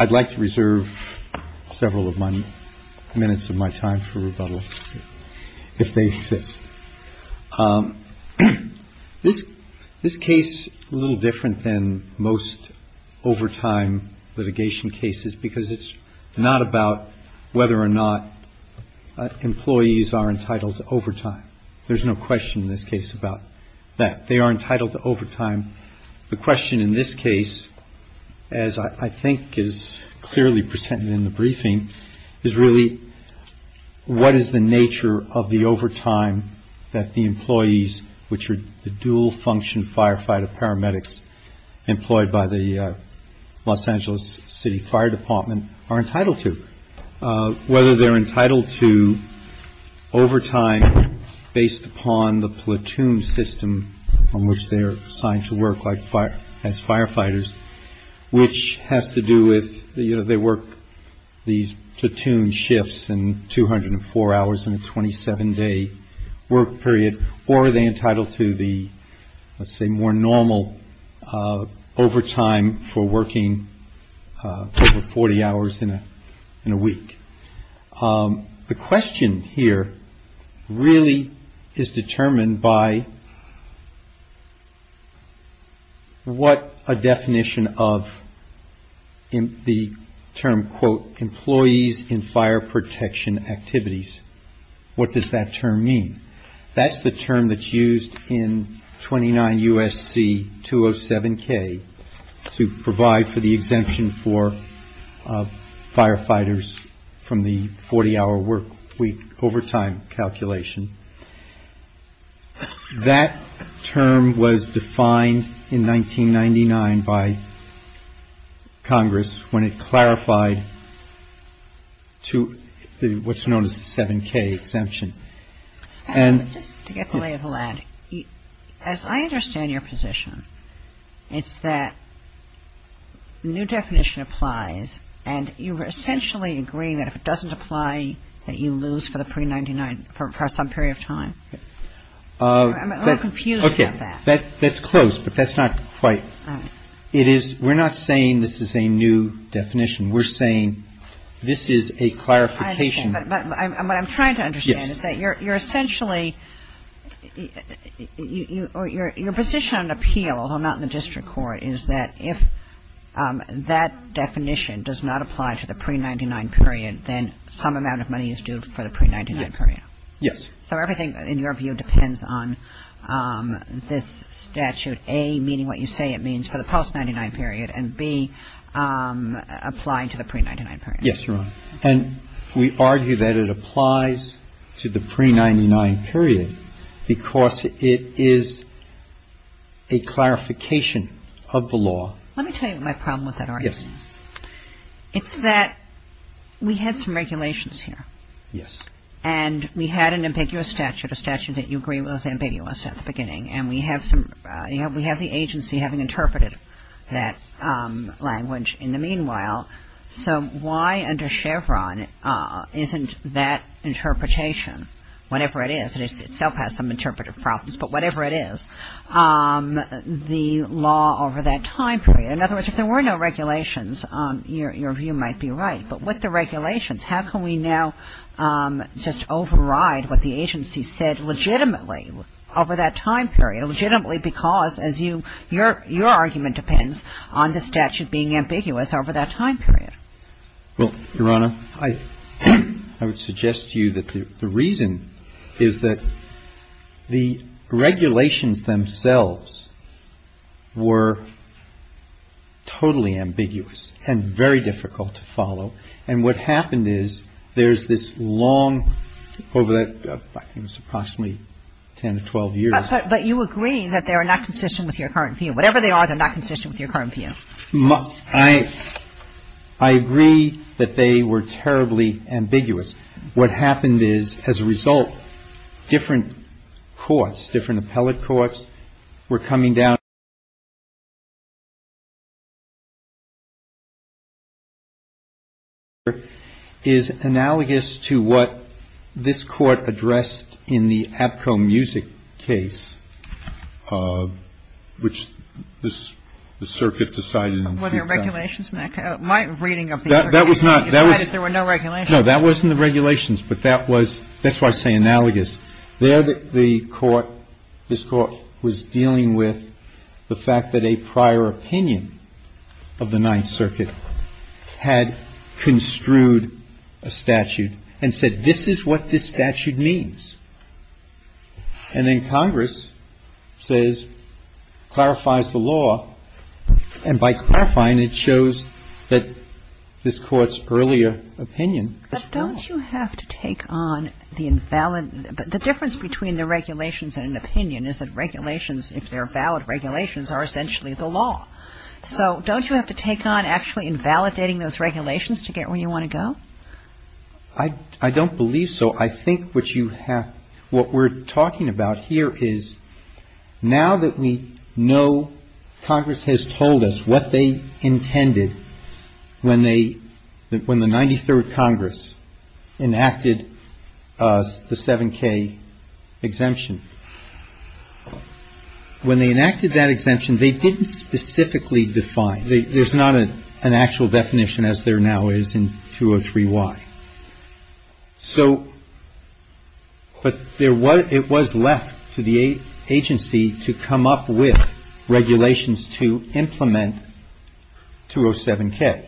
I'd like to reserve several of my minutes of my time for rebuttal, if they exist. This case is a little different than most overtime litigation cases because it's not about whether or not employees are entitled to overtime. There's no question in this case about that. They are entitled to overtime. The question in this case, as I think is clearly presented in the briefing, is really what is the nature of the overtime that the employees, which are the dual function firefighter paramedics employed by the Los Angeles City Fire Department, are entitled to. Whether they're entitled to overtime based upon the platoon system on which they're assigned to work as firefighters, which has to do with they work these platoon shifts and 204 hours in a 27-day work period, or are they entitled to the, let's say, more normal overtime for working over 40 hours in a week. The question here really is determined by what a definition of the term, quote, employees in fire protection activities. What does that term mean? That's the term that's used in 29 U.S.C. 207K to provide for the exemption for firefighters from the 40-hour work week overtime calculation. That term was defined in 1999 by Congress when it clarified to what's known as the 7K exemption. And this — Just to get the lay of the land, as I understand your position, it's that the new definition applies, and you're essentially agreeing that if it doesn't apply, that you lose for the pre-'99, for some period of time? I'm a little confused about that. Okay. That's close, but that's not quite. All right. It is — we're not saying this is a new definition. We're saying this is a clarification. But what I'm trying to understand is that you're essentially — your position on appeal, although not in the district court, is that if that definition does not apply to the pre-'99 period, then some amount of money is due for the pre-'99 period. Yes. So everything, in your view, depends on this statute, A, meaning what you say it means for the post-'99 period, and B, applying to the pre-'99 period. Yes, Your Honor. And we argue that it applies to the pre-'99 period because it is a clarification of the law. Let me tell you my problem with that argument. Yes. It's that we had some regulations here. Yes. And we had an ambiguous statute, a statute that you agree was ambiguous at the beginning, and we have some — we have the agency having interpreted that language in the meanwhile. So why under Chevron isn't that interpretation, whatever it is, it itself has some interpretive problems, but whatever it is, the law over that time period — in other words, if there were no regulations, your view might be right. But with the regulations, how can we now just override what the agency said legitimately over that time period, legitimately because, as you — your argument depends on the statute being ambiguous over that time period. Well, Your Honor, I would suggest to you that the reason is that the regulations themselves were totally ambiguous and very difficult to follow, and what happened is there's this long — over approximately 10 to 12 years. But you agree that they are not consistent with your current view. Whatever they are, they're not consistent with your current view. I agree that they were terribly ambiguous. What happened is, as a result, different courts, different appellate courts were coming down — The court that I'm referring to is analogous to what this Court addressed in the Abko Music case, which the circuit decided on. Were there regulations in that case? My reading of the — That was not — You said there were no regulations. No, that wasn't the regulations, but that was — that's why I say analogous. There, the court — this Court was dealing with the fact that a prior opinion of the Ninth Circuit had construed a statute and said, this is what this statute means. And then Congress says — clarifies the law, and by clarifying, it shows that this Court's earlier opinion was wrong. Don't you have to take on the invalid — the difference between the regulations and an opinion is that regulations, if they're valid regulations, are essentially the law. So don't you have to take on actually invalidating those regulations to get where you want to go? I don't believe so. So I think what you have — what we're talking about here is now that we know Congress has told us what they intended when they — when the 93rd Congress enacted the 7K exemption, when they enacted that exemption, they didn't specifically define — there's not an actual definition as there now is in 203Y. So — but there was — it was left to the agency to come up with regulations to implement 207K.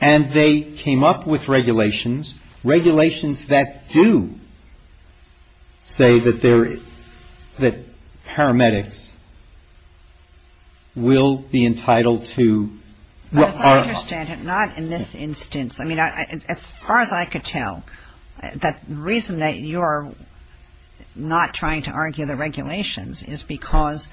And they came up with regulations, regulations that do say that there — that paramedics will be entitled to — I understand, but not in this instance. I mean, as far as I could tell, the reason that you're not trying to argue the regulations is because,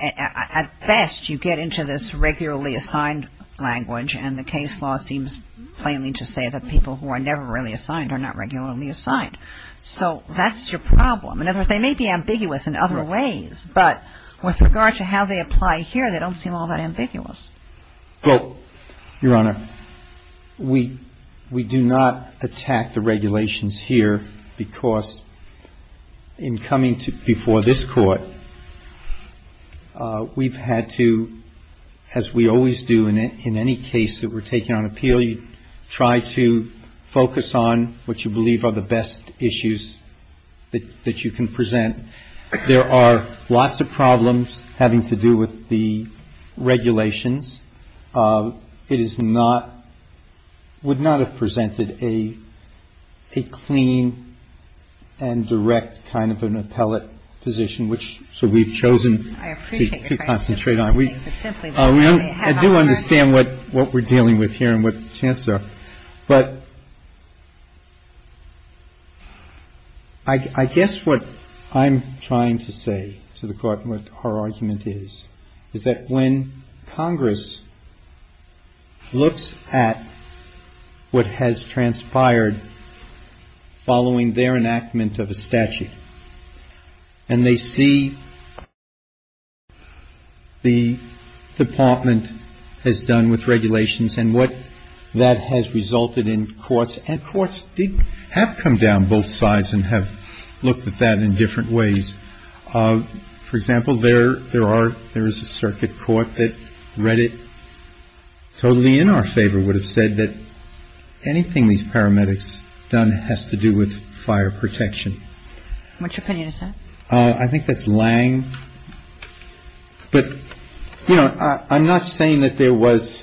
at best, you get into this regularly assigned language, and the case law seems plainly to say that people who are never really assigned are not regularly assigned. So that's your problem. In other words, they may be ambiguous in other ways, but with regard to how they apply here, they don't seem all that ambiguous. Well, Your Honor, we — we do not attack the regulations here because, in coming to — before this Court, we've had to, as we always do in any case that we're taking on appeal, you try to focus on what you believe are the best issues that you can present. There are lots of problems having to do with the regulations. It is not — would not have presented a clean and direct kind of an appellate position, which — so we've chosen to concentrate on. I appreciate your frankness. I do understand what we're dealing with here and what the chances are. But I guess what I'm trying to say to the Court and what our argument is, is that when Congress looks at what has transpired following their enactment of a statute and they see what the Department has done with regulations and what that has resulted in courts — and courts have come down both sides and have looked at that in different ways. For example, there are — there is a circuit court that read it totally in our favor, would have said that anything these paramedics done has to do with fire protection. Which opinion is that? I think that's Lange. But, you know, I'm not saying that there was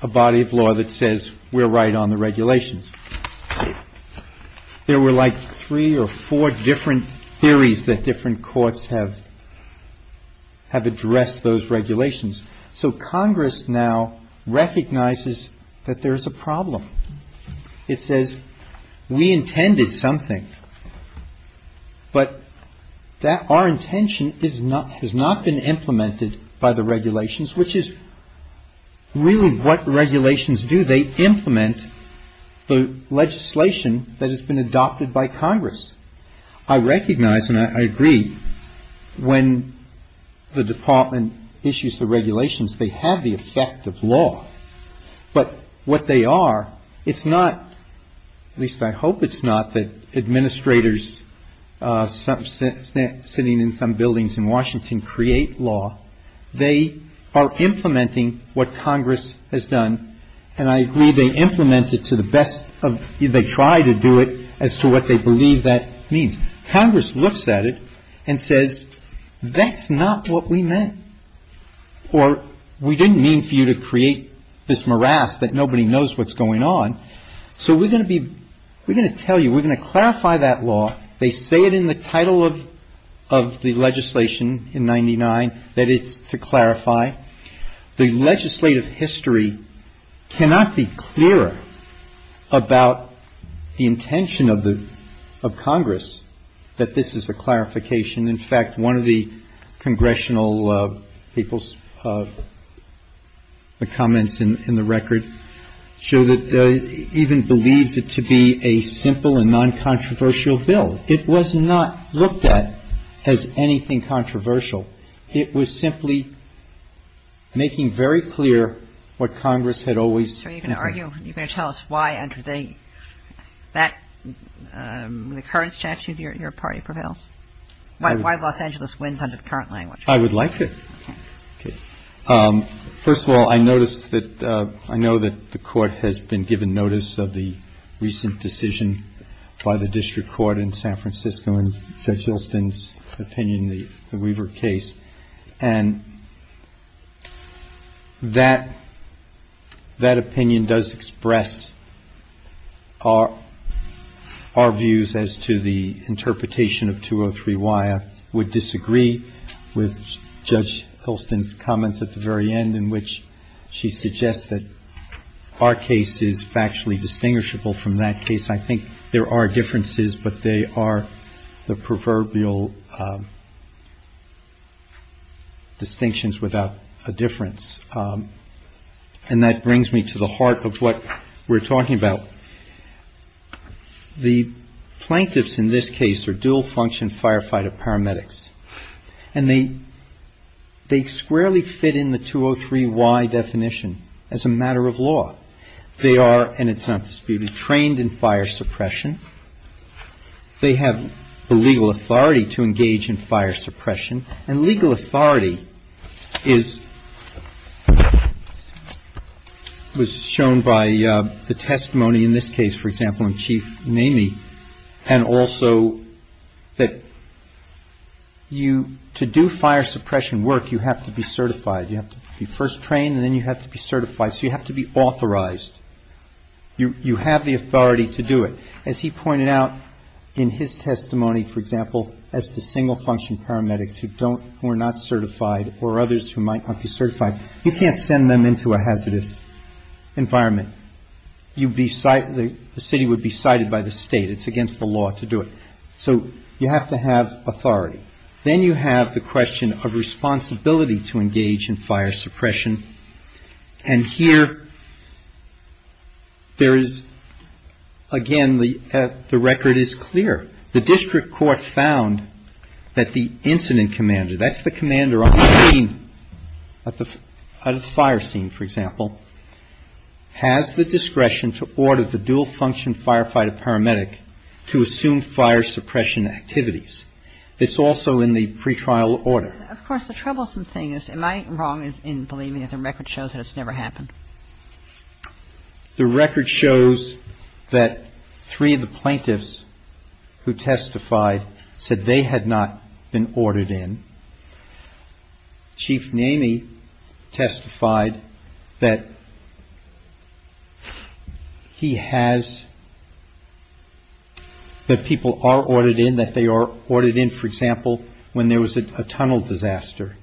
a body of law that says we're right on the regulations. There were like three or four different theories that different courts have addressed those regulations. So Congress now recognizes that there is a problem. It says we intended something, but that our intention is not — has not been implemented by the regulations, which is really what regulations do. They implement the legislation that has been adopted by Congress. I recognize and I agree when the Department issues the regulations, they have the effect of law. But what they are, it's not — at least I hope it's not that administrators sitting in some buildings in Washington create law. They are implementing what Congress has done. And I agree they implement it to the best of — they try to do it as to what they believe that means. Congress looks at it and says that's not what we meant. Or we didn't mean for you to create this morass that nobody knows what's going on. So we're going to be — we're going to tell you, we're going to clarify that law. They say it in the title of the legislation in 99 that it's to clarify. The legislative history cannot be clearer about the intention of Congress that this is a clarification. In fact, one of the congressional people's comments in the record show that — even believes it to be a simple and non-controversial bill. It was not looked at as anything controversial. It was simply making very clear what Congress had always intended. I'm going to ask you, you're going to tell us why under the — that — the current statute your party prevails. Why Los Angeles wins under the current language. I would like to. First of all, I noticed that — I know that the Court has been given notice of the recent decision by the district court in San Francisco in Judge Hulston's opinion, the Weaver case. And that — that opinion does express our — our views as to the interpretation of 203Y. I would disagree with Judge Hulston's comments at the very end in which she suggests that our case is factually distinguishable from that case. I think there are differences, but they are the proverbial distinctions without a difference. And that brings me to the heart of what we're talking about. The plaintiffs in this case are dual function firefighter paramedics. And they — they squarely fit in the 203Y definition as a matter of law. They are, and it's not disputed, trained in fire suppression. They have the legal authority to engage in fire suppression. And legal authority is — was shown by the testimony in this case, for example, in Chief Namey. And also that you — to do fire suppression work, you have to be certified. You have to be first trained and then you have to be certified. So you have to be authorized. You — you have the authority to do it. As he pointed out in his testimony, for example, as to single function paramedics who don't — who are not certified or others who might not be certified, you can't send them into a hazardous environment. You'd be — the city would be cited by the state. It's against the law to do it. So you have to have authority. Then you have the question of responsibility to engage in fire suppression. And here there is — again, the record is clear. The district court found that the incident commander, that's the commander on the scene, at the fire scene, for example, has the discretion to order the dual function firefighter paramedic to assume fire suppression activities. It's also in the pretrial order. Of course, the troublesome thing is, am I wrong in believing that the record shows that it's never happened? The record shows that three of the plaintiffs who testified said they had not been ordered in. Chief Namey testified that he has — that people are ordered in, that they are ordered in, for example, when there was a tunnel disaster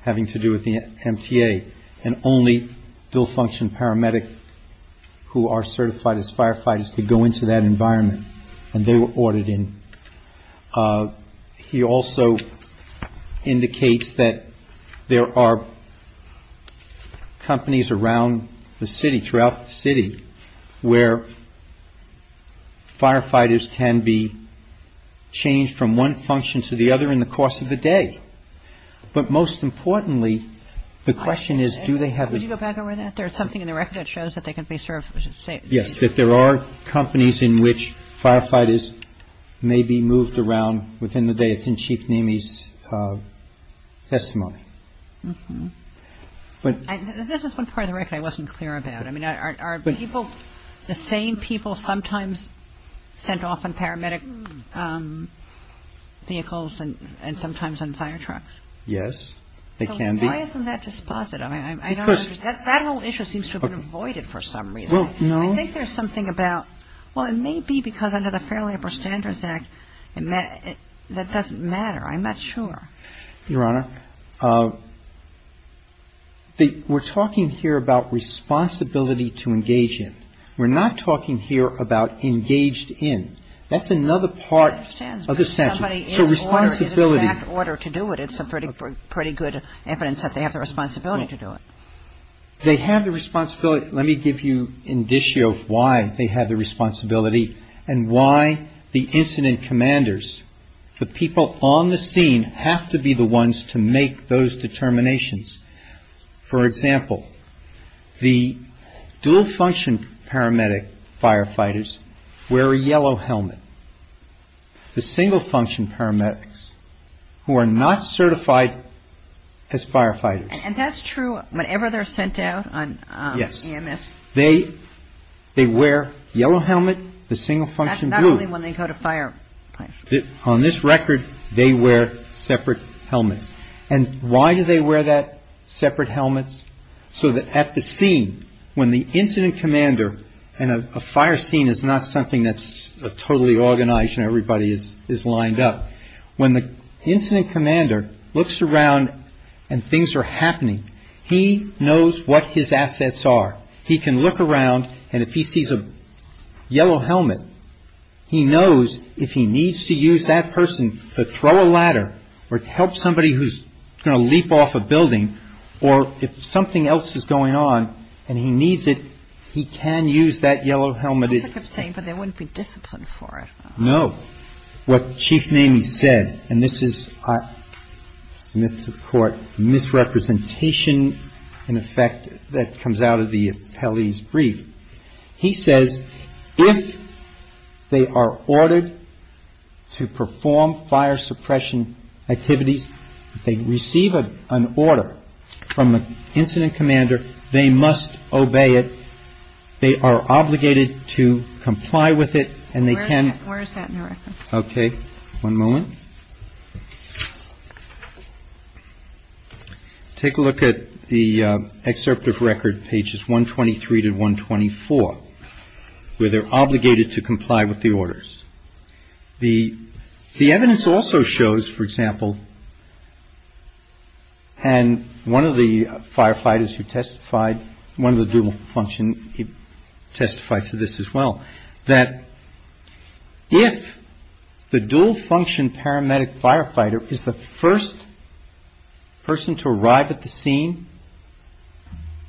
having to do with the MTA, and only dual function paramedic who are certified as firefighters could go into that environment. And they were ordered in. He also indicates that there are companies around the city, throughout the city, where firefighters can be changed from one function to the other in the course of the day. But most importantly, the question is, do they have a — Would you go back over that? There is something in the record that shows that they can be served safely. Yes, that there are companies in which firefighters may be moved around within the day. It's in Chief Namey's testimony. This is one part of the record I wasn't clear about. I mean, are people — the same people sometimes sent off in paramedic vehicles and sometimes in fire trucks? Yes, they can be. So why isn't that dispositive? I don't understand. That whole issue seems to have been avoided for some reason. Well, no. I think there's something about — well, it may be because under the Fair Labor Standards Act, that doesn't matter. I'm not sure. Your Honor, we're talking here about responsibility to engage in. We're not talking here about engaged in. That's another part of the statute. Somebody is ordered, is in fact ordered to do it. It's pretty good evidence that they have the responsibility to do it. They have the responsibility. Let me give you an issue of why they have the responsibility and why the incident commanders, the people on the scene, have to be the ones to make those determinations. For example, the dual-function paramedic firefighters wear a yellow helmet. The single-function paramedics, who are not certified as firefighters. And that's true whenever they're sent out on EMS? Yes. They wear yellow helmet. The single-function do. That's not only when they go to fire. On this record, they wear separate helmets. And why do they wear that separate helmets? So that at the scene, when the incident commander, and a fire scene is not something that's totally organized When the incident commander looks around and things are happening, he knows what his assets are. He can look around, and if he sees a yellow helmet, he knows if he needs to use that person to throw a ladder or to help somebody who's going to leap off a building, or if something else is going on and he needs it, he can use that yellow helmet. But there wouldn't be discipline for it. No. What Chief Mamie said, and this is, I submit to the Court, misrepresentation in effect that comes out of the appellee's brief. He says, if they are ordered to perform fire suppression activities, they receive an order from the incident commander, they must obey it. They are obligated to comply with it, and they can Where is that in the record? Okay. One moment. Take a look at the excerpt of record pages 123 to 124, where they're obligated to comply with the orders. The evidence also shows, for example, and one of the firefighters who testified, one of the dual function, he testified to this as well, that if the dual function paramedic firefighter is the first person to arrive at the scene,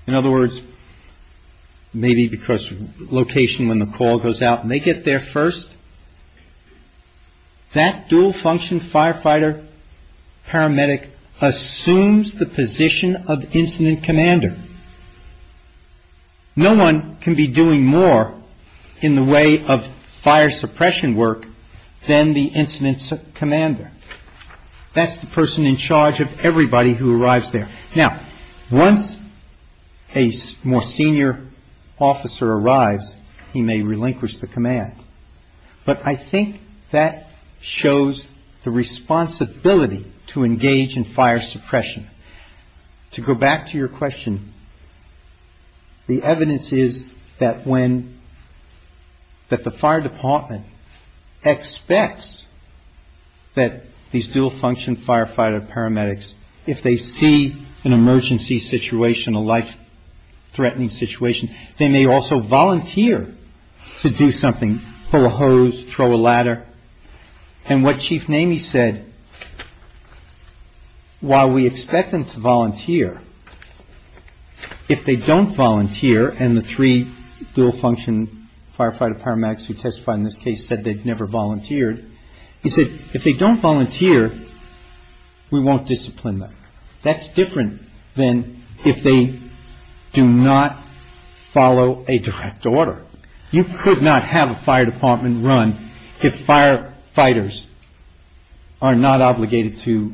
in other words, maybe because location when the call goes out and they get there first, that dual function firefighter paramedic assumes the position of incident commander. No one can be doing more in the way of fire suppression work than the incident commander. That's the person in charge of everybody who arrives there. Now, once a more senior officer arrives, he may relinquish the command. But I think that shows the responsibility to engage in fire suppression. To go back to your question, the evidence is that when, that the fire department expects that these dual function firefighter paramedics, if they see an emergency situation, a life-threatening situation, they may also volunteer to do something, throw a hose, throw a ladder. And what Chief Namey said, while we expect them to volunteer, if they don't volunteer and the three dual function firefighter paramedics who testified in this case said they've never volunteered, he said if they don't volunteer, we won't discipline them. That's different than if they do not follow a direct order. You could not have a fire department run if firefighters are not obligated to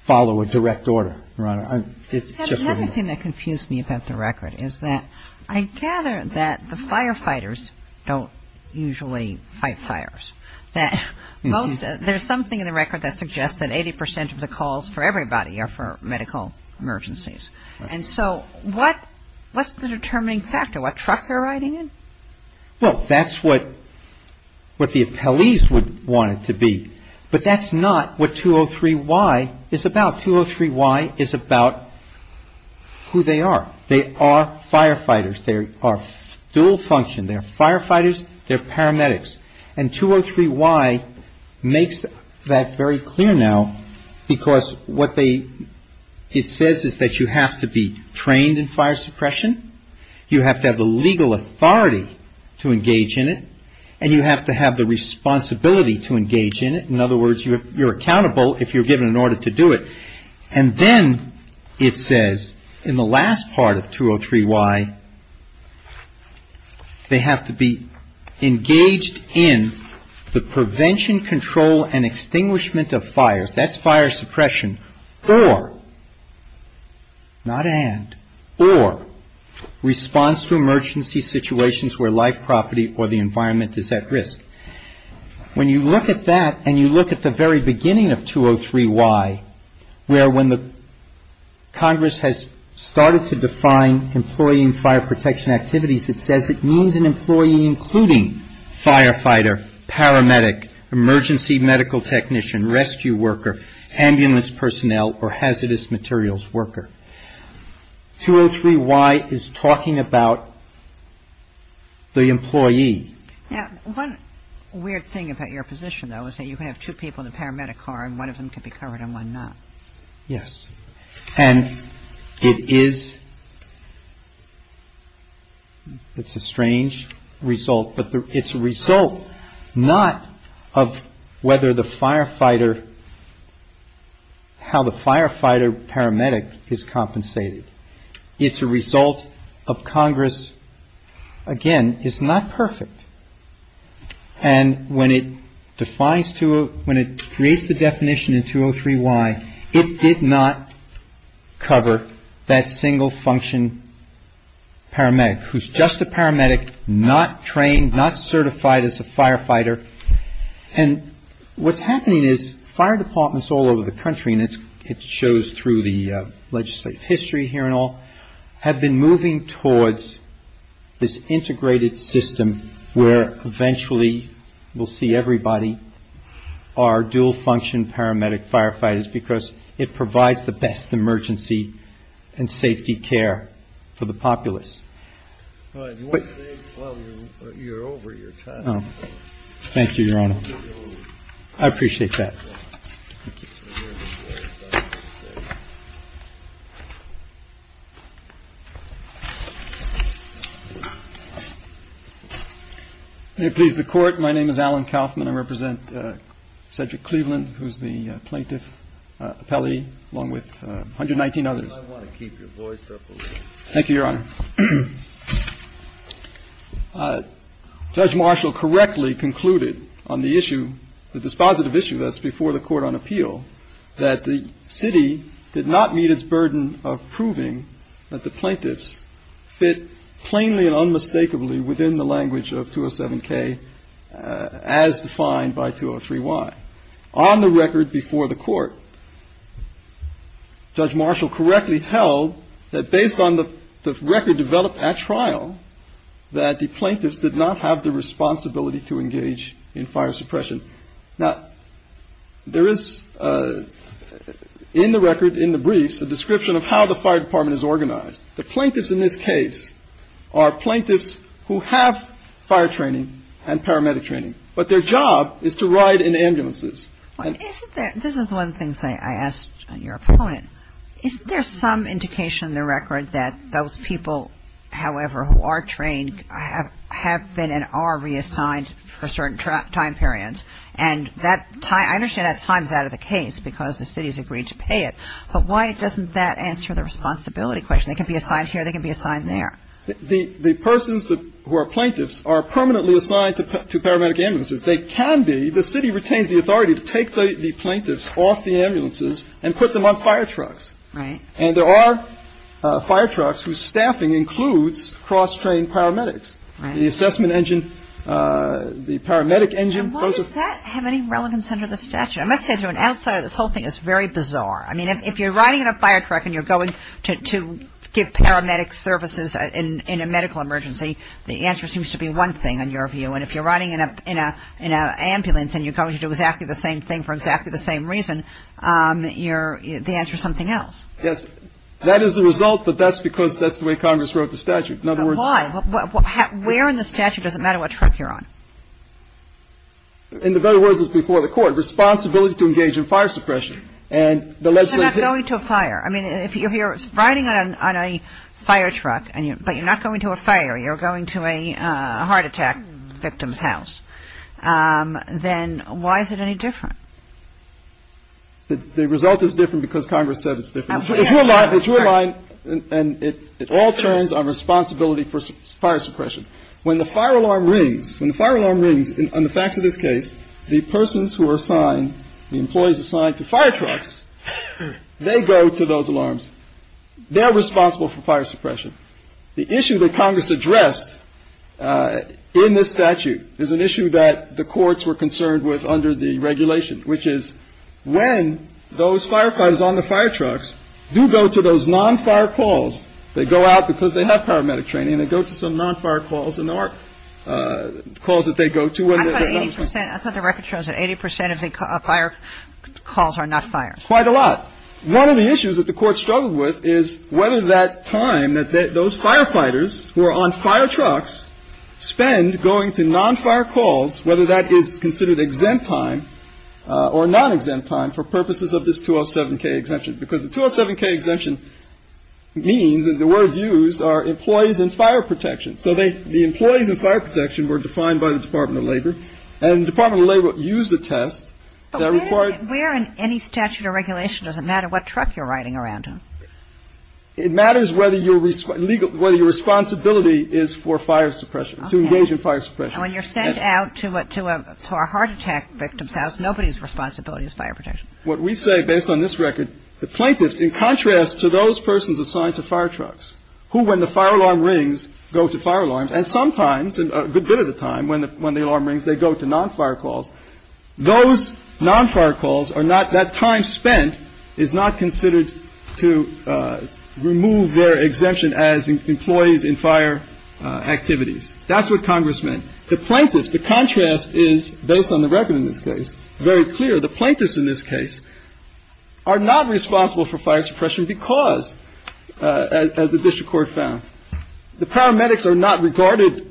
follow a direct order, Your Honor. The other thing that confused me about the record is that I gather that the firefighters don't usually fight fires. There's something in the record that suggests that 80 percent of the calls for everybody are for medical emergencies. And so what's the determining factor, what trucks they're riding in? Well, that's what the appellees would want it to be. But that's not what 203Y is about. 203Y is about who they are. They are firefighters. They are dual function. They're firefighters. They're paramedics. And 203Y makes that very clear now because what it says is that you have to be trained in fire suppression. You have to have the legal authority to engage in it. And you have to have the responsibility to engage in it. In other words, you're accountable if you're given an order to do it. And then it says in the last part of 203Y, they have to be engaged in the prevention, control and extinguishment of fires. That's fire suppression. Or, not and, or response to emergency situations where life property or the environment is at risk. When you look at that and you look at the very beginning of 203Y where when the Congress has started to define employee and fire protection activities, it says it means an employee including firefighter, paramedic, emergency medical technician, rescue worker, ambulance personnel or hazardous materials worker. 203Y is talking about the employee. Now, one weird thing about your position, though, is that you have two people in a paramedic car and one of them can be covered and one not. Yes. And it is, it's a strange result, but it's a result not of whether the firefighter, how the firefighter paramedic is compensated. It's a result of Congress, again, is not perfect. And when it defines, when it creates the definition in 203Y, it did not cover that single function paramedic who's just a paramedic, not trained, not certified as a firefighter. And what's happening is fire departments all over the country, and it shows through the legislative history here and all, have been moving towards this integrated system where eventually we'll see everybody are dual function paramedic firefighters because it provides the best emergency and safety care for the populace. But you're over your time. Oh, thank you, Your Honor. I appreciate that. May it please the Court. My name is Alan Kaufman. I represent Cedric Cleveland, who's the plaintiff, Pelley, along with 119 others. I want to keep your voice up. Thank you, Your Honor. Judge Marshall correctly concluded on the issue, the dispositive issue that's before the Court on appeal, that the city did not meet its burden of proving that the plaintiffs fit plainly and unmistakably within the language of 207K as defined by 203Y. On the record before the Court, Judge Marshall correctly held that based on the record developed at trial, that the plaintiffs did not have the responsibility to engage in fire suppression. Now, there is in the record, in the briefs, a description of how the fire department is organized. The plaintiffs in this case are plaintiffs who have fire training and paramedic training, but their job is to ride in ambulances. This is one thing I asked your opponent. Is there some indication in the record that those people, however, who are trained have been and are reassigned for certain time periods? And I understand that time is out of the case because the city has agreed to pay it, but why doesn't that answer the responsibility question? They can be assigned here. They can be assigned there. The persons who are plaintiffs are permanently assigned to paramedic ambulances. They can be. The city retains the authority to take the plaintiffs off the ambulances and put them on fire trucks. Right. And there are fire trucks whose staffing includes cross-trained paramedics. Right. The assessment engine, the paramedic engine. Why does that have any relevance under the statute? I must say to an outsider, this whole thing is very bizarre. I mean, if you're riding in a fire truck and you're going to give paramedics services in a medical emergency, the answer seems to be one thing in your view. And if you're riding in an ambulance and you're going to do exactly the same thing for exactly the same reason, the answer is something else. Yes. That is the result, but that's because that's the way Congress wrote the statute. Why? Where in the statute does it matter what truck you're on? In other words, it's before the court. Responsibility to engage in fire suppression. So you're not going to a fire. I mean, if you're riding on a fire truck, but you're not going to a fire, you're going to a heart attack victim's house, then why is it any different? The result is different because Congress said it's different. It's your line and it all turns on responsibility for fire suppression. When the fire alarm rings, when the fire alarm rings on the facts of this case, the persons who are assigned, the employees assigned to fire trucks, they go to those alarms. They're responsible for fire suppression. The issue that Congress addressed in this statute is an issue that the courts were concerned with under the regulation, which is when those firefighters on the fire trucks do go to those non-fire calls, they go out because they have paramedic training and they go to some non-fire calls and or calls that they go to. I thought the record shows that 80 percent of the fire calls are not fires. Quite a lot. One of the issues that the court struggled with is whether that time that those firefighters who are on fire trucks spend going to non-fire calls, whether that is considered exempt time or non-exempt time for purposes of this 207k exemption. Because the 207k exemption means that the words used are employees and fire protection. So the employees and fire protection were defined by the Department of Labor. And the Department of Labor used the test. But where in any statute or regulation does it matter what truck you're riding around on? It matters whether your legal, whether your responsibility is for fire suppression, to engage in fire suppression. And when you're sent out to a heart attack victim's house, nobody's responsibility is fire protection. What we say based on this record, the plaintiffs, in contrast to those persons assigned to fire trucks, who, when the fire alarm rings, go to fire alarms, and sometimes, a good bit of the time, when the alarm rings, they go to non-fire calls. Those non-fire calls are not, that time spent is not considered to remove their exemption as employees in fire activities. That's what Congress meant. The plaintiffs, the contrast is, based on the record in this case, very clear. The plaintiffs, in this case, are not responsible for fire suppression because, as the district court found, the paramedics are not regarded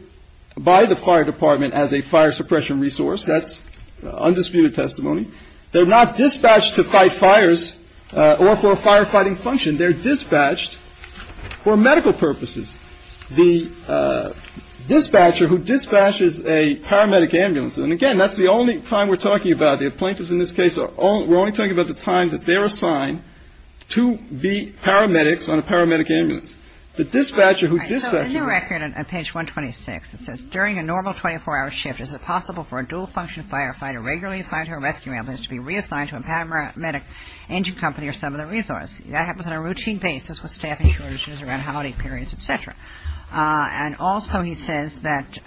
by the fire department as a fire suppression resource. That's undisputed testimony. They're not dispatched to fight fires or for a firefighting function. They're dispatched for medical purposes. The dispatcher who dispatches a paramedic ambulance, and again, that's the only time we're talking about. The plaintiffs, in this case, we're only talking about the time that they're assigned to be paramedics on a paramedic ambulance. The dispatcher who dispatches a paramedic ambulance. Kagan. So in the record on page 126, it says, During a normal 24-hour shift, is it possible for a dual-function firefighter regularly assigned to a rescue ambulance to be reassigned to a paramedic engine company or some other resource? That happens on a routine basis with staffing shortages around holiday periods, et cetera. And also he says that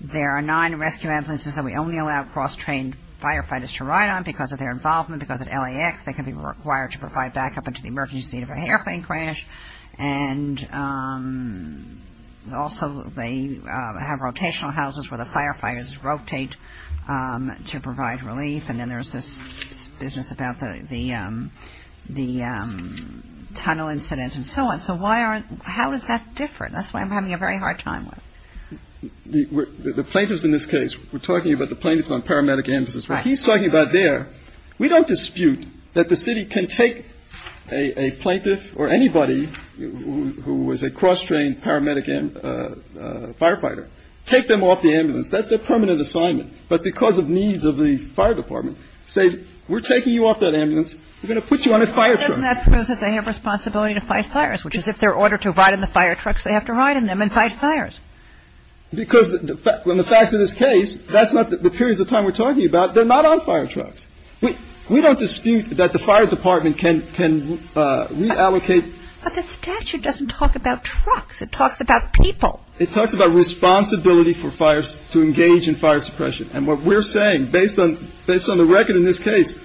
there are nine rescue ambulances that we only allow cross-trained firefighters to ride on because of their involvement, because at LAX they can be required to provide backup into the emergency seat of an airplane crash, and also they have rotational houses where the firefighters rotate to provide relief, and then there's this business about the tunnel incident and so on. So how does that differ? That's what I'm having a very hard time with. The plaintiffs in this case, we're talking about the plaintiffs on paramedic ambulances. What he's talking about there, we don't dispute that the city can take a plaintiff or anybody who is a cross-trained paramedic firefighter, take them off the ambulance. That's their permanent assignment. But because of needs of the fire department, say, we're taking you off that ambulance. We're going to put you on a fire truck. Doesn't that prove that they have responsibility to fight fires, which is if they're ordered to ride in the fire trucks, they have to ride in them and fight fires. Because in the facts of this case, that's not the periods of time we're talking about. They're not on fire trucks. We don't dispute that the fire department can reallocate. But the statute doesn't talk about trucks. It talks about people. It talks about responsibility to engage in fire suppression. And what we're saying, based on the record in this case,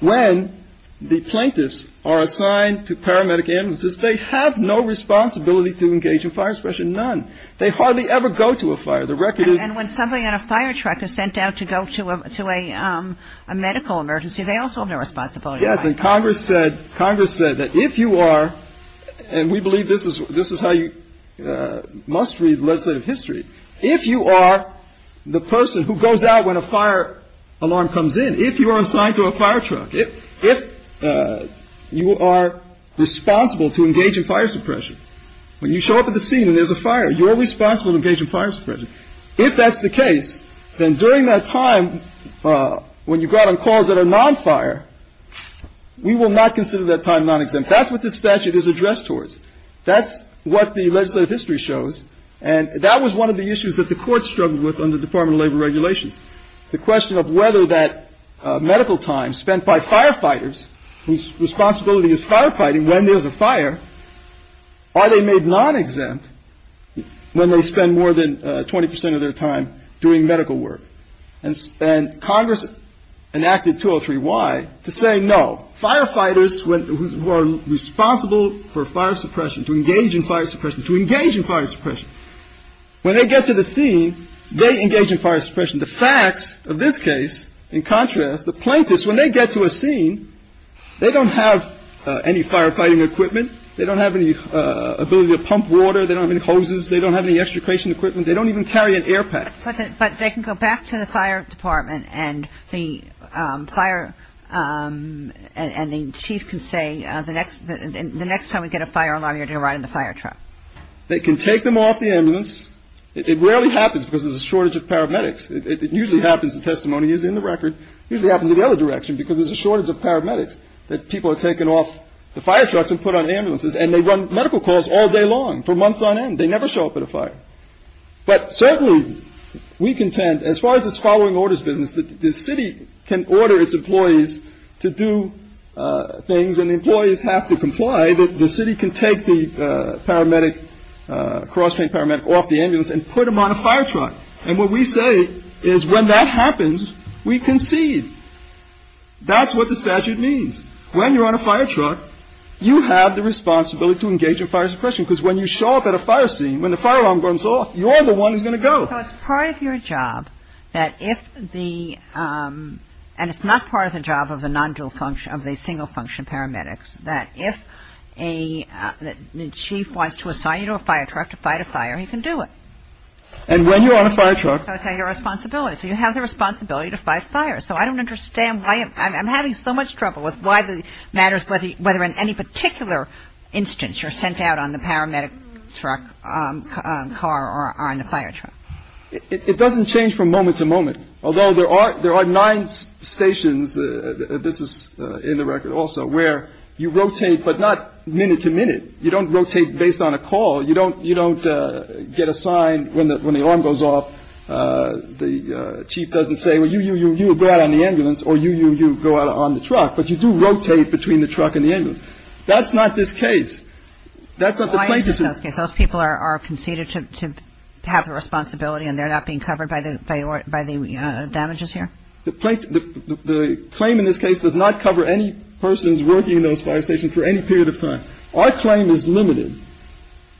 when the plaintiffs are assigned to paramedic ambulances, they have no responsibility to engage in fire suppression. None. They hardly ever go to a fire. The record is. And when somebody on a fire truck is sent out to go to a medical emergency, they also have no responsibility. Yes. And Congress said that if you are, and we believe this is how you must read legislative history, if you are the person who goes out when a fire alarm comes in, if you are assigned to a fire truck, if you are responsible to engage in fire suppression, when you show up at the scene and there's a fire, you're responsible to engage in fire suppression. If that's the case, then during that time, when you go out on calls that are non-fire, we will not consider that time non-exempt. That's what this statute is addressed towards. That's what the legislative history shows. And that was one of the issues that the courts struggled with under Department of Labor regulations, the question of whether that medical time spent by firefighters, whose responsibility is firefighting when there's a fire, are they made non-exempt when they spend more than 20 percent of their time doing medical work? And Congress enacted 203Y to say no. Firefighters who are responsible for fire suppression, to engage in fire suppression, when they get to the scene, they engage in fire suppression. The facts of this case, in contrast, the plaintiffs, when they get to a scene, they don't have any firefighting equipment. They don't have any ability to pump water. They don't have any hoses. They don't have any extrication equipment. They don't even carry an air pack. But they can go back to the fire department and the fire and the chief can say, the next time we get a fire alarm, you're going to ride in the fire truck. They can take them off the ambulance. It rarely happens because there's a shortage of paramedics. It usually happens, the testimony is in the record. It usually happens in the other direction because there's a shortage of paramedics, that people are taken off the fire trucks and put on ambulances, and they run medical calls all day long for months on end. They never show up at a fire. But certainly we contend, as far as this following orders business, that the city can order its employees to do things and the employees have to comply, that the city can take the paramedic, cross-trained paramedic, off the ambulance and put them on a fire truck. And what we say is when that happens, we concede. That's what the statute means. When you're on a fire truck, you have the responsibility to engage in fire suppression because when you show up at a fire scene, when the fire alarm goes off, you're the one who's going to go. So it's part of your job that if the, and it's not part of the job of the non-dual function, of the single function paramedics, that if the chief wants to assign you to a fire truck to fight a fire, he can do it. And when you're on a fire truck. That's your responsibility. So you have the responsibility to fight fire. So I don't understand why, I'm having so much trouble with why the matters, whether in any particular instance you're sent out on the paramedic truck, car or on the fire truck. It doesn't change from moment to moment. Although there are nine stations, this is in the record also, where you rotate, but not minute to minute. You don't rotate based on a call. You don't get assigned when the alarm goes off. The chief doesn't say, well, you go out on the ambulance or you go out on the truck. But you do rotate between the truck and the ambulance. That's not this case. That's not the plaintiff's. Those people are conceded to have the responsibility and they're not being covered by the damages here? The claim in this case does not cover any persons working in those fire stations for any period of time. Our claim is limited.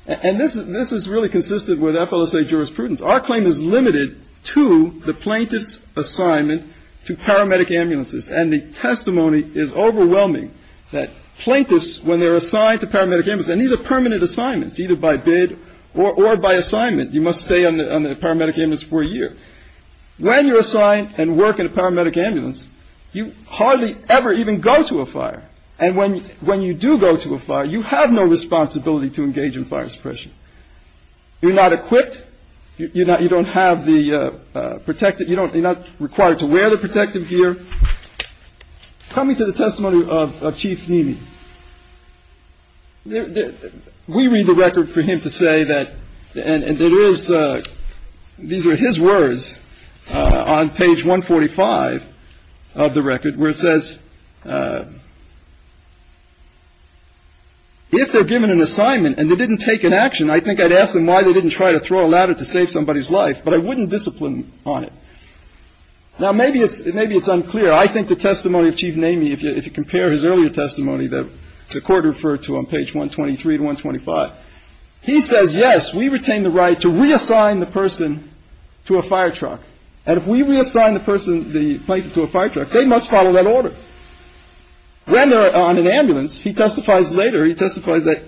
And this is really consistent with FLSA jurisprudence. Our claim is limited to the plaintiff's assignment to paramedic ambulances. And the testimony is overwhelming that plaintiffs, when they're assigned to paramedic ambulance, and these are permanent assignments either by bid or by assignment. You must stay on the paramedic ambulance for a year. When you're assigned and work in a paramedic ambulance, you hardly ever even go to a fire. And when when you do go to a fire, you have no responsibility to engage in fire suppression. You're not equipped. You don't have the protective. You don't you're not required to wear the protective gear. Coming to the testimony of Chief Nimi, we read the record for him to say that. And there is. These are his words on page 145 of the record where it says. If they're given an assignment and they didn't take an action, I think I'd ask them why they didn't try to throw a ladder to save somebody's life. But I wouldn't discipline on it. Now, maybe it's maybe it's unclear. I think the testimony of Chief Nimi, if you compare his earlier testimony that the court referred to on page 123 to 125. He says, yes, we retain the right to reassign the person to a fire truck. And if we reassign the person to a fire truck, they must follow that order. When they're on an ambulance, he testifies later. He testifies that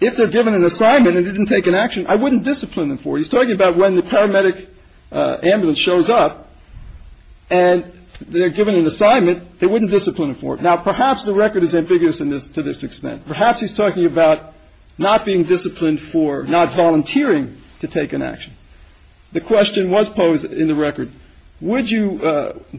if they're given an assignment and didn't take an action, I wouldn't discipline them for. He's talking about when the paramedic ambulance shows up and they're given an assignment. They wouldn't discipline him for it. Now, perhaps the record is ambiguous in this to this extent. Perhaps he's talking about not being disciplined for not volunteering to take an action. The question was posed in the record. Would you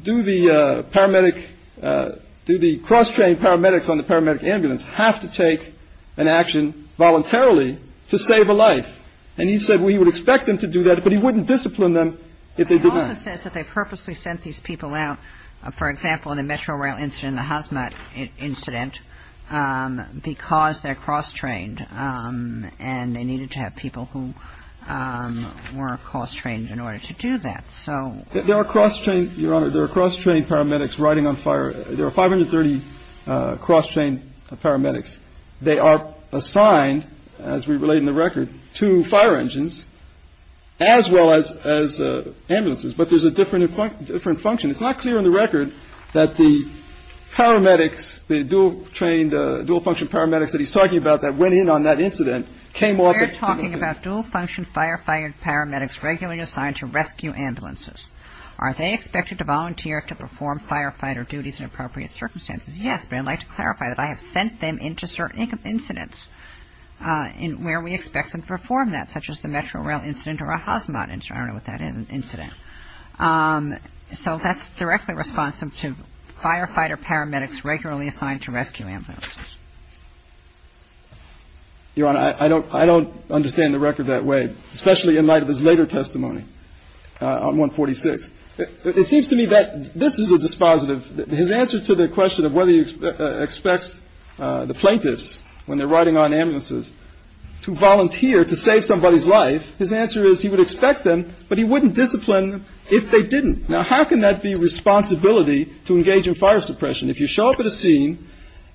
do the paramedic, do the cross-trained paramedics on the paramedic ambulance have to take an action voluntarily to save a life? And he said we would expect them to do that, but he wouldn't discipline them if they didn't. He also says that they purposely sent these people out, for example, in the Metro Rail incident, the Hazmat incident, because they're cross-trained. And they needed to have people who were cross-trained in order to do that. So there are cross-trained, Your Honor. There are cross-trained paramedics riding on fire. There are 530 cross-trained paramedics. They are assigned, as we relate in the record, to fire engines as well as ambulances. But there's a different function. It's not clear in the record that the paramedics, the dual trained, dual function paramedics that he's talking about that went in on that incident came up. We're talking about dual function firefighter paramedics regularly assigned to rescue ambulances. Are they expected to volunteer to perform firefighter duties in appropriate circumstances? Yes. But I'd like to clarify that I have sent them into certain incidents where we expect them to perform that, such as the Metro Rail incident or a Hazmat incident. I don't know what that incident is. So that's directly responsive to firefighter paramedics regularly assigned to rescue ambulances. Your Honor, I don't understand the record that way, especially in light of his later testimony on 146. It seems to me that this is a dispositive. His answer to the question of whether he expects the plaintiffs when they're riding on ambulances to volunteer to save somebody's life, his answer is he would expect them, but he wouldn't discipline them if they didn't. Now, how can that be responsibility to engage in fire suppression? If you show up at a scene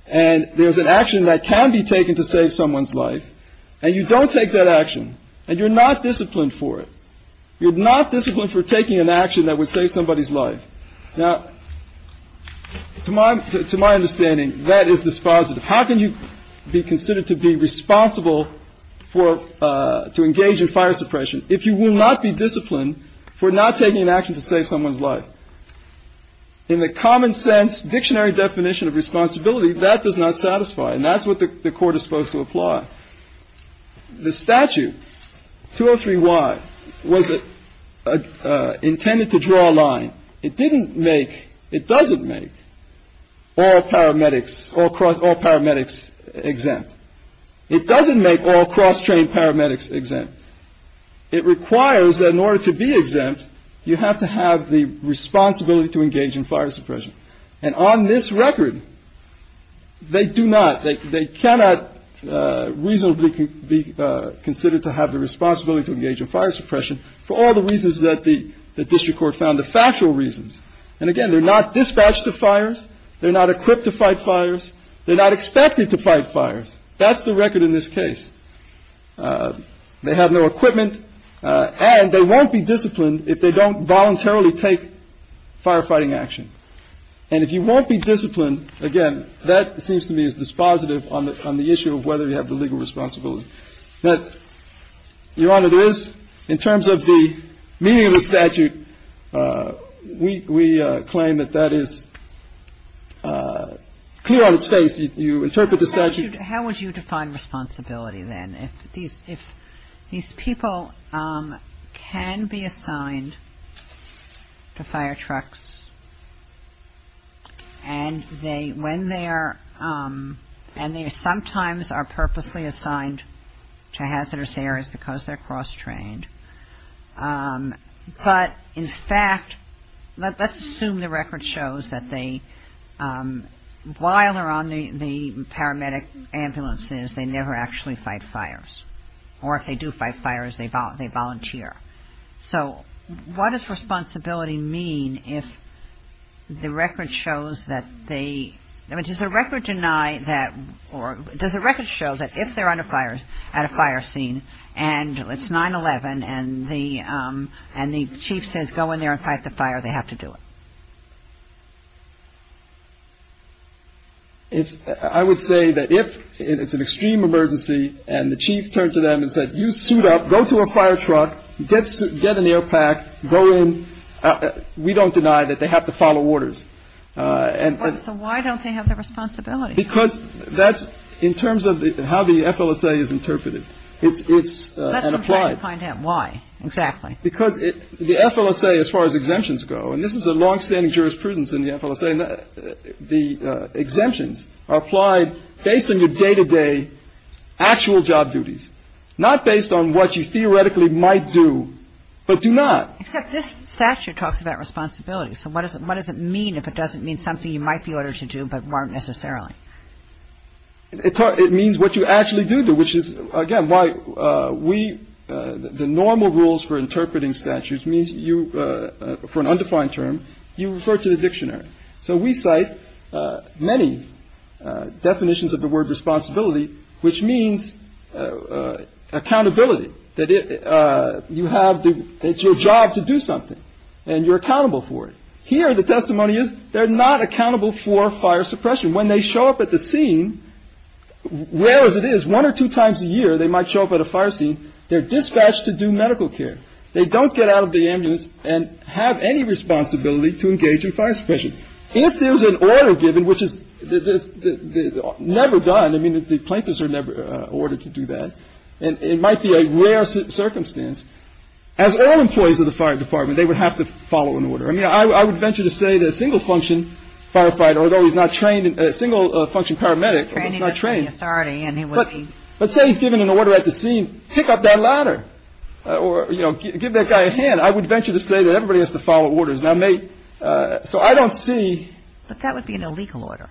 and there's an action that can be taken to save someone's life and you don't take that action and you're not disciplined for it, you're not disciplined for taking an action that would save somebody's life. Now, to my to my understanding, that is dispositive. How can you be considered to be responsible for to engage in fire suppression if you will not be disciplined for not taking an action to save someone's life? In the common sense, dictionary definition of responsibility, that does not satisfy. And that's what the court is supposed to apply. The statute, 203Y, was intended to draw a line. It didn't make, it doesn't make all paramedics, all paramedics exempt. It doesn't make all cross-trained paramedics exempt. It requires that in order to be exempt, you have to have the responsibility to engage in fire suppression. And on this record, they do not, they cannot reasonably be considered to have the responsibility to engage in fire suppression for all the reasons that the district court found, the factual reasons. And again, they're not dispatched to fires. They're not equipped to fight fires. They're not expected to fight fires. That's the record in this case. They have no equipment, and they won't be disciplined if they don't voluntarily take firefighting action. And if you won't be disciplined, again, that seems to me is dispositive on the issue of whether you have the legal responsibility. But, Your Honor, there is, in terms of the meaning of the statute, we claim that that is clear on its face. You interpret the statute. How would you define responsibility then? If these people can be assigned to fire trucks, and they, when they are, and they sometimes are purposely assigned to hazardous areas because they're cross-trained, but in fact, let's assume the record shows that they, while they're on the paramedic ambulances, they never actually fight fires, or if they do fight fires, they volunteer. So what does responsibility mean if the record shows that they, I mean, does the record deny that, or does the record show that if they're on a fire, at a fire scene, and it's 9-11, and the chief says go in there and fight the fire, they have to do it? I would say that if it's an extreme emergency, and the chief turned to them and said, you suit up, go to a fire truck, get an air pack, go in. We don't deny that they have to follow orders. So why don't they have the responsibility? Because that's, in terms of how the FLSA is interpreted, it's an applied. Let's try to find out why, exactly. Because the FLSA, as far as exemptions go, and this is a longstanding jurisprudence in the FLSA, the exemptions are applied based on your day-to-day actual job duties, not based on what you theoretically might do, but do not. Except this statute talks about responsibility. So what does it mean if it doesn't mean something you might be ordered to do, but weren't necessarily? It means what you actually do, which is, again, why we, the normal rules for interpreting statutes means you, for an undefined term, you refer to the dictionary. So we cite many definitions of the word responsibility, which means accountability. That you have your job to do something and you're accountable for it. Here, the testimony is they're not accountable for fire suppression. When they show up at the scene, rare as it is, one or two times a year, they might show up at a fire scene. They're dispatched to do medical care. They don't get out of the ambulance and have any responsibility to engage in fire suppression. If there's an order given, which is never done, I mean, the plaintiffs are never ordered to do that, and it might be a rare circumstance, as all employees of the fire department, they would have to follow an order. I mean, I would venture to say that a single-function firefighter, although he's not trained, a single-function paramedic, but let's say he's given an order at the scene, pick up that ladder or, you know, give that guy a hand. I would venture to say that everybody has to follow orders. Now, so I don't see. But that would be an illegal order.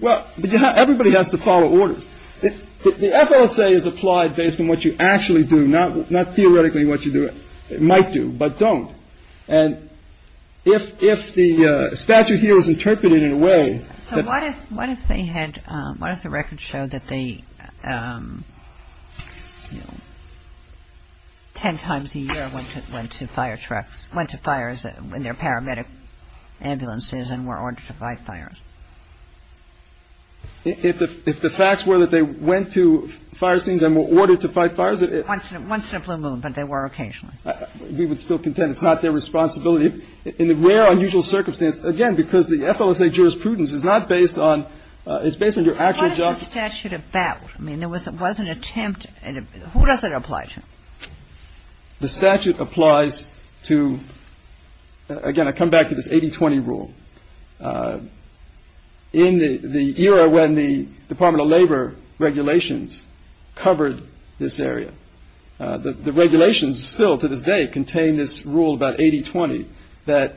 Well, everybody has to follow orders. The FLSA is applied based on what you actually do, not theoretically what you do. It might do, but don't. And if the statute here is interpreted in a way that. What if they had, what if the records show that they, you know, ten times a year went to fire trucks, went to fires in their paramedic ambulances and were ordered to fight fires? If the facts were that they went to fire scenes and were ordered to fight fires. Once in a blue moon, but they were occasionally. We would still contend it's not their responsibility. In the rare unusual circumstance, again, because the FLSA jurisprudence is not based on, it's based on your actual job. What is the statute about? I mean, there was an attempt. Who does it apply to? The statute applies to, again, I come back to this 80-20 rule. In the era when the Department of Labor regulations covered this area, the regulations still to this day contain this rule about 80-20, that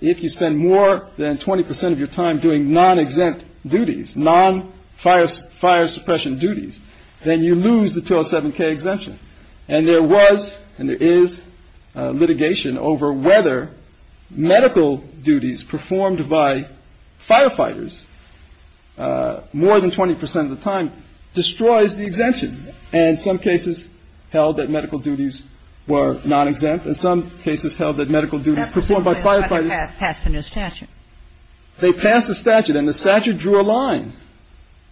if you spend more than 20 percent of your time doing non-exempt duties, non-fire suppression duties, then you lose the 207k exemption. And there was and there is litigation over whether medical duties performed by firefighters more than 20 percent of the time destroys the exemption. And some cases held that medical duties were non-exempt. In some cases held that medical duties performed by firefighters. They passed a statute. They passed a statute. And the statute drew a line.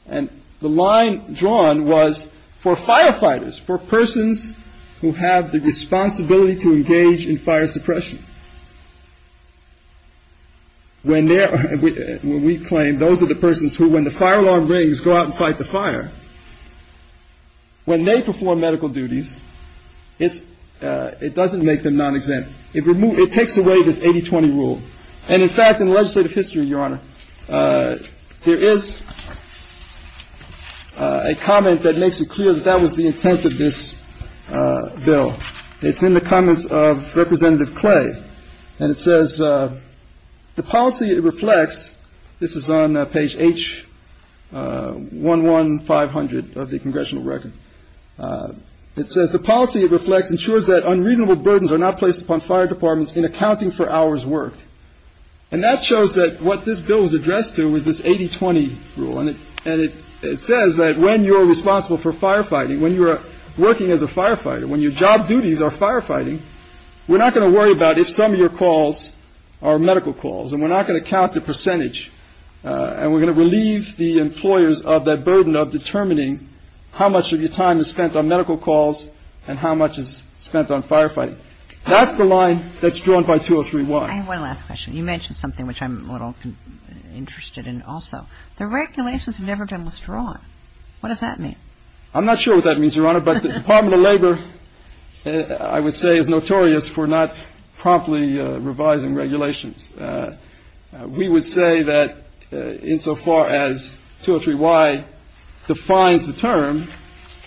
And the line drawn was for firefighters, for persons who have the responsibility to engage in fire suppression. When we claim those are the persons who, when the fire alarm rings, go out and fight the fire, when they perform medical duties, it doesn't make them non-exempt. It takes away this 80-20 rule. And, in fact, in legislative history, Your Honor, there is a comment that makes it clear that that was the intent of this bill. It's in the comments of Representative Clay. And it says, the policy it reflects, this is on page H11500 of the congressional record. It says, the policy it reflects ensures that unreasonable burdens are not placed upon fire departments in accounting for hours worked. And that shows that what this bill is addressed to is this 80-20 rule. And it says that when you're responsible for firefighting, when you're working as a firefighter, when your job duties are firefighting, we're not going to worry about if some of your calls are medical calls. And we're not going to count the percentage. And we're going to relieve the employers of that burden of determining how much of your time is spent on medical calls and how much is spent on firefighting. That's the line that's drawn by 2031. I have one last question. You mentioned something which I'm a little interested in also. The regulations have never been withdrawn. What does that mean? I'm not sure what that means, Your Honor. But the Department of Labor, I would say, is notorious for not promptly revising regulations. We would say that insofar as 203Y defines the term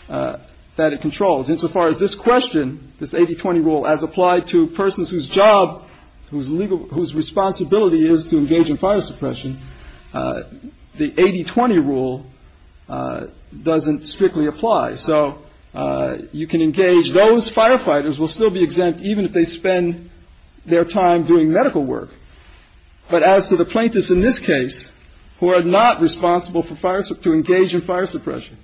that it controls, insofar as this question, this 80-20 rule, as applied to persons whose job, whose responsibility is to engage in fire suppression, the 80-20 rule doesn't strictly apply. So you can engage. Those firefighters will still be exempt even if they spend their time doing medical work. But as to the plaintiffs in this case who are not responsible to engage in fire suppression,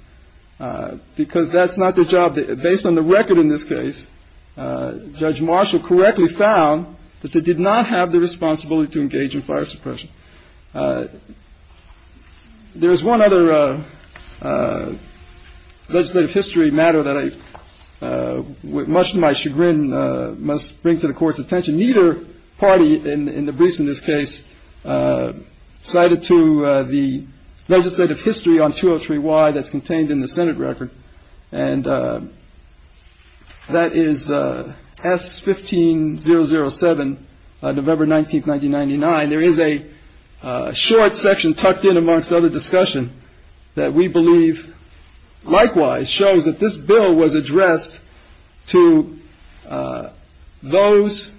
because that's not their job. Based on the record in this case, Judge Marshall correctly found that they did not have the responsibility to engage in fire suppression. There is one other legislative history matter that I, with much to my chagrin, must bring to the Court's attention. Neither party in the briefs in this case cited to the legislative history on 203Y that's contained in the Senate record. And that is S.15-007, November 19th, 1999. There is a short section tucked in amongst other discussion that we believe, likewise, shows that this bill was addressed to those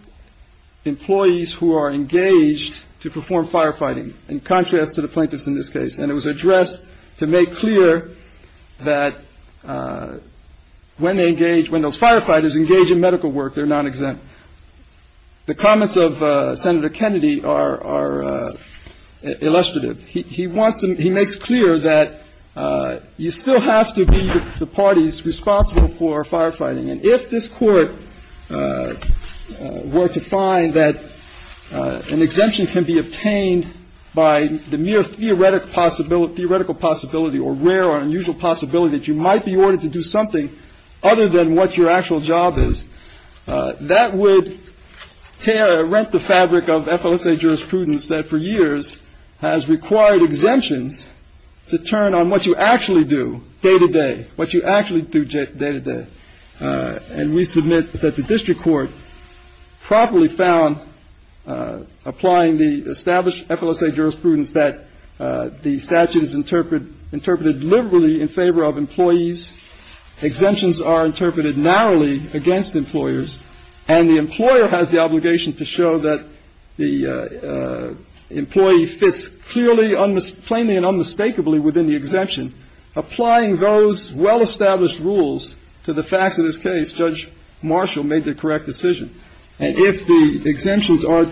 employees who are engaged to perform firefighting, in contrast to the plaintiffs in this case. And it was addressed to make clear that when they engage, when those firefighters engage in medical work, they're non-exempt. The comments of Senator Kennedy are illustrative. He makes clear that you still have to be the parties responsible for firefighting. And if this Court were to find that an exemption can be obtained by the mere theoretical possibility or rare or unusual possibility that you might be ordered to do something other than what your actual job is, that would tear or rent the fabric of FLSA jurisprudence that for years has required exemptions to turn on what you actually do day to day, what you actually do day to day. And we submit that the district court properly found, applying the established FLSA jurisprudence, that the statute is interpreted liberally in favor of employees, exemptions are interpreted narrowly against employers, and the employer has the obligation to show that the employee fits clearly, plainly and unmistakably within the exemption. Applying those well-established rules to the facts of this case, Judge Marshall made the correct decision. And if the exemptions are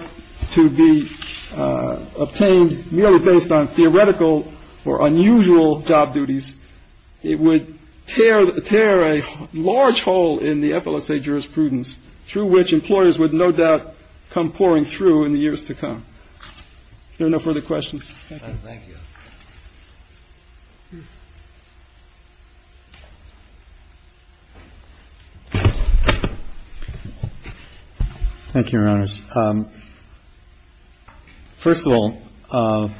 to be obtained merely based on theoretical or unusual job duties, it would tear a large hole in the FLSA jurisprudence through which employers would no doubt come pouring through in the years to come. Are there no further questions? Thank you. Thank you, Your Honors. First of all,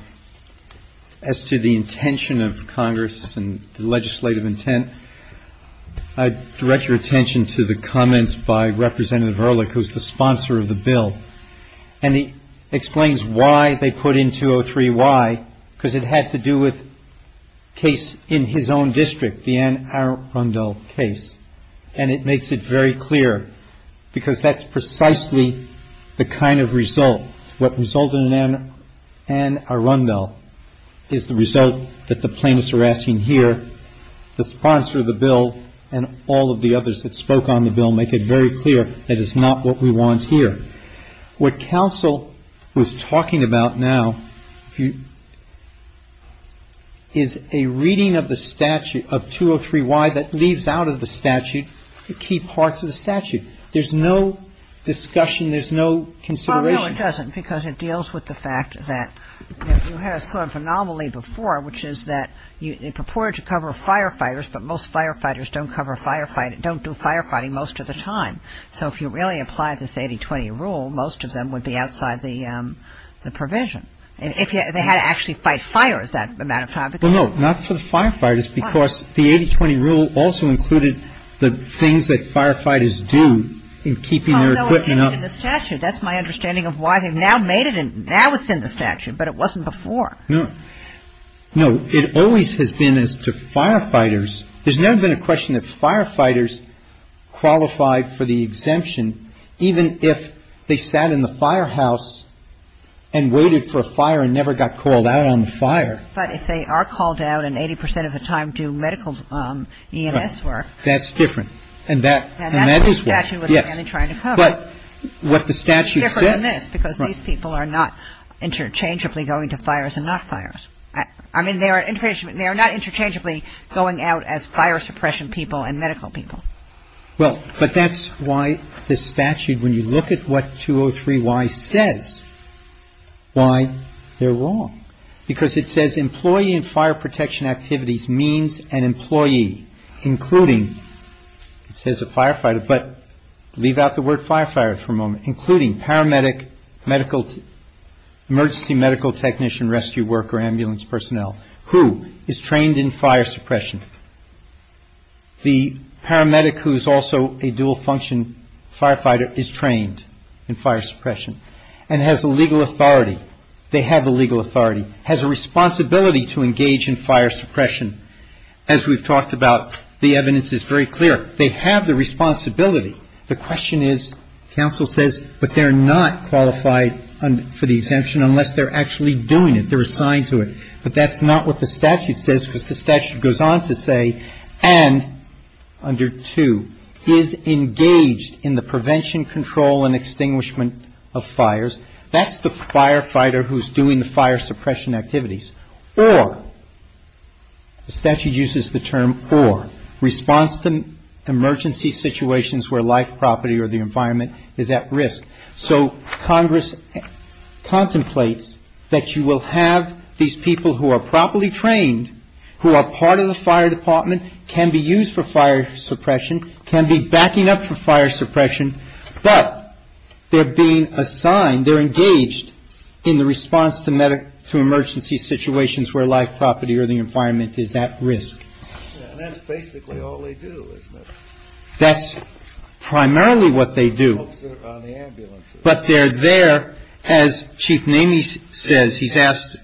as to the intention of Congress and the legislative intent, I direct your attention to the comments by Representative Ehrlich, who is the sponsor of the bill. And he explains why they put in 203Y, because it had to do with a case in his own district, the Ann Arundel case. And it makes it very clear, because that's precisely the kind of result, what resulted in Ann Arundel is the result that the plaintiffs are asking here. The sponsor of the bill and all of the others that spoke on the bill make it very clear that it's not what we want here. What counsel was talking about now is a reading of the statute of 203Y that leaves out of the statute the key parts of the statute. There's no discussion. There's no consideration. Well, no, it doesn't, because it deals with the fact that you had a sort of anomaly before, which is that it purported to cover firefighters, but most firefighters don't cover firefighting, don't do firefighting most of the time. So if you really apply this 80-20 rule, most of them would be outside the provision. They had to actually fight fires that amount of time. Well, no, not for the firefighters, because the 80-20 rule also included the things that firefighters do in keeping their equipment up. Oh, no, it didn't in the statute. That's my understanding of why they've now made it, and now it's in the statute, but it wasn't before. No. No, it always has been as to firefighters. There's never been a question that firefighters qualified for the exemption, even if they sat in the firehouse and waited for a fire and never got called out on the fire. But if they are called out, and 80 percent of the time do medical EMS work. That's different. And that is what, yes. And that's what the statute was really trying to cover. But what the statute said. Well, but that's why the statute, when you look at what 203-Y says, why they're wrong. Because it says employee and fire protection activities means an employee, including, it says a firefighter, but leave out the word firefighter for a moment, including paramedics, firefighters, emergency medical technician, rescue worker, ambulance personnel, who is trained in fire suppression. The paramedic who's also a dual function firefighter is trained in fire suppression and has the legal authority. They have the legal authority, has a responsibility to engage in fire suppression. As we've talked about, the evidence is very clear. They have the responsibility. The question is, counsel says, but they're not qualified for the exemption unless they're actually doing it. They're assigned to it. But that's not what the statute says, because the statute goes on to say, and under 2, is engaged in the prevention, control, and extinguishment of fires. That's the firefighter who's doing the fire suppression activities. Or, the statute uses the term or, response to emergency situations where life, property, or the environment is at risk. So Congress contemplates that you will have these people who are properly trained, who are part of the fire department, can be used for fire suppression, can be backing up for fire suppression, but they're being assigned, they're engaged in the response to emergency situations where life, property, or the environment is at risk. And that's basically all they do, isn't it? That's primarily what they do. But they're there, as Chief Namey says, he's asked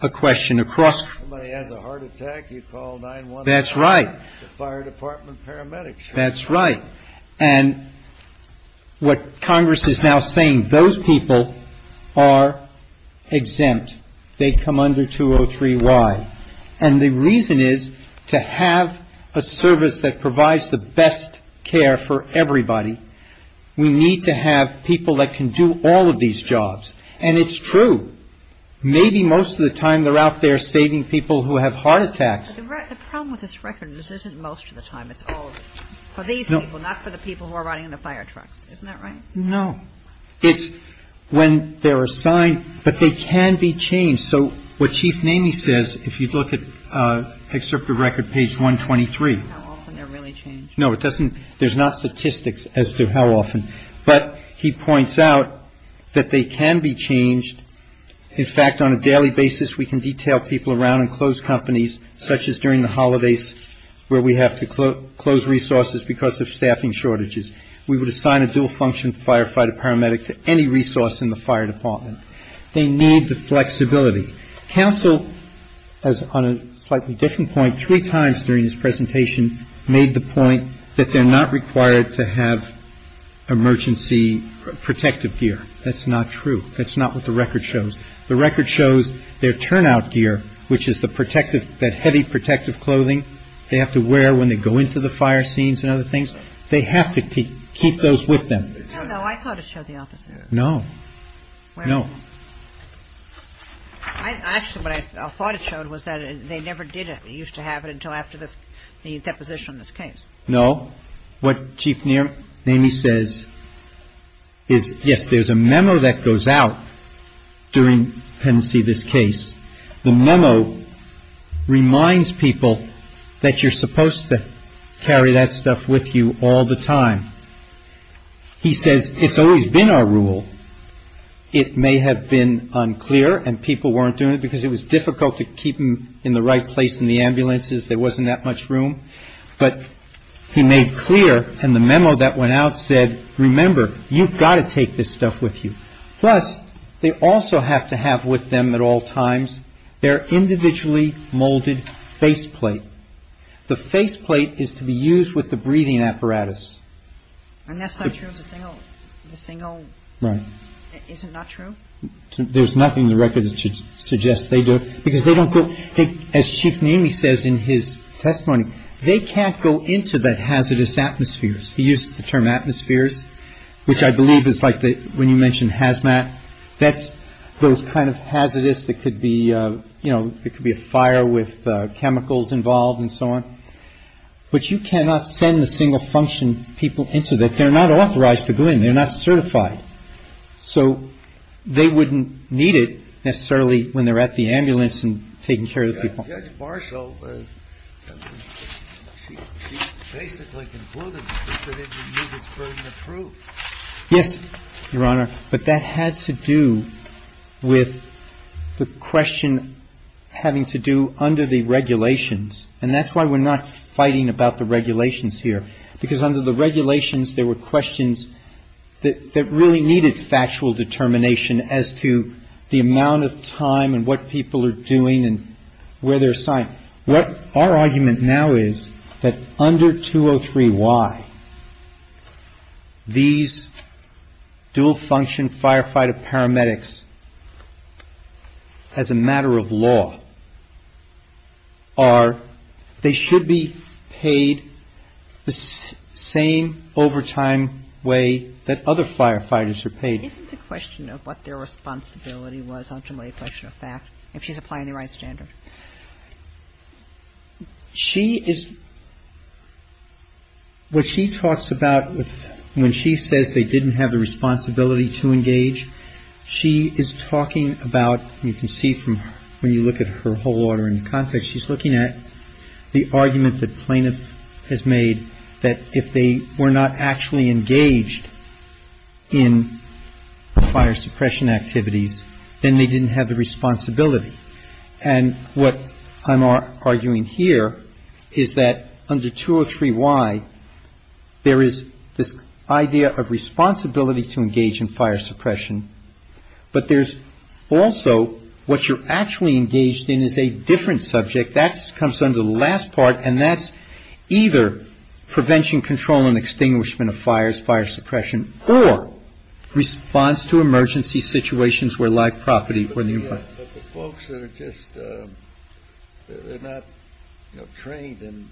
a question across. Somebody has a heart attack, you call 9-1-1. That's right. The fire department paramedics. That's right. And what Congress is now saying, those people are exempt. They come under 203Y. And the reason is, to have a service that provides the best care for everybody, we need to have people that can do all of these jobs. And it's true. Maybe most of the time they're out there saving people who have heart attacks. But the problem with this record is it isn't most of the time. It's all of it. For these people, not for the people who are riding in the fire trucks. Isn't that right? No. It's when they're assigned, but they can be changed. So what Chief Namey says, if you look at Excerpt of Record, page 123. How often they're really changed. No, it doesn't. There's not statistics as to how often. But he points out that they can be changed. In fact, on a daily basis, we can detail people around and close companies, such as during the holidays where we have to close resources because of staffing shortages. We would assign a dual-function firefighter paramedic to any resource in the fire department. They need the flexibility. Counsel, on a slightly different point, three times during his presentation, made the point that they're not required to have emergency protective gear. That's not true. That's not what the record shows. The record shows their turnout gear, which is that heavy protective clothing they have to wear when they go into the fire scenes and other things. They have to keep those with them. No, I thought it showed the opposite. No. No. Actually, what I thought it showed was that they never did it. They used to have it until after the deposition of this case. No. Well, what Chief Naney says is, yes, there's a memo that goes out during pendency of this case. The memo reminds people that you're supposed to carry that stuff with you all the time. He says it's always been our rule. It may have been unclear and people weren't doing it because it was difficult to keep them in the right place in the ambulances, there wasn't that much room. But he made clear in the memo that went out, said, remember, you've got to take this stuff with you. Plus, they also have to have with them at all times their individually molded faceplate. The faceplate is to be used with the breathing apparatus. And that's not true of the single? Right. Is it not true? There's nothing in the record that should suggest they do it because they don't go. As Chief Naney says in his testimony, they can't go into that hazardous atmospheres. He uses the term atmospheres, which I believe is like when you mentioned hazmat. That's those kind of hazardous that could be a fire with chemicals involved and so on. But you cannot send the single function people into that. They're not authorized to go in. They're not certified. So they wouldn't need it necessarily when they're at the ambulance and taking care of the people. Judge Marshall, she basically concluded that they didn't need this burden of proof. Yes, Your Honor. But that had to do with the question having to do under the regulations. And that's why we're not fighting about the regulations here. Because under the regulations there were questions that really needed factual determination as to the amount of time and what people are doing and where they're assigned. Our argument now is that under 203Y, these dual function firefighter paramedics, as a matter of law, are, they should be paid the same overtime way that other firefighters are paid. Isn't the question of what their responsibility was ultimately a question of fact, if she's applying the right standard? She is what she talks about when she says they didn't have the responsibility to engage. She is talking about, you can see from when you look at her whole order in context, she's looking at the argument that plaintiff has made that if they were not actually engaged in fire suppression activities, then they didn't have the responsibility. And what I'm arguing here is that under 203Y, there is this idea of responsibility to engage in fire suppression. But there's also what you're actually engaged in is a different subject. That comes under the last part. And that's either prevention, control and extinguishment of fires, fire suppression, or response to emergency situations where live property. But the folks that are just, they're not trained in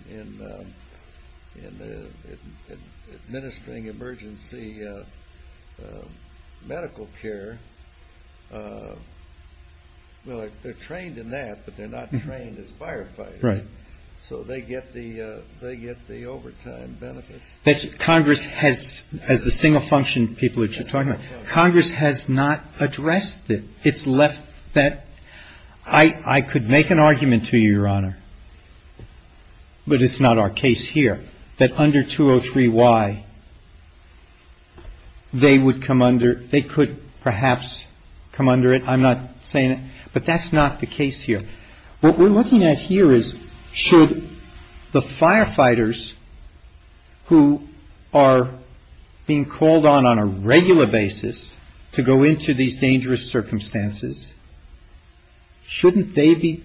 administering emergency medical care. Well, they're trained in that, but they're not trained as firefighters. So they get the overtime benefits. But Congress has, as the single function people that you're talking about, Congress has not addressed it. It's left that, I could make an argument to you, Your Honor, but it's not our case here, that under 203Y, they would come under, they could perhaps come under it. I'm not saying it, but that's not the case here. What we're looking at here is should the firefighters who are being called on on a regular basis to go into these dangerous circumstances, shouldn't they be,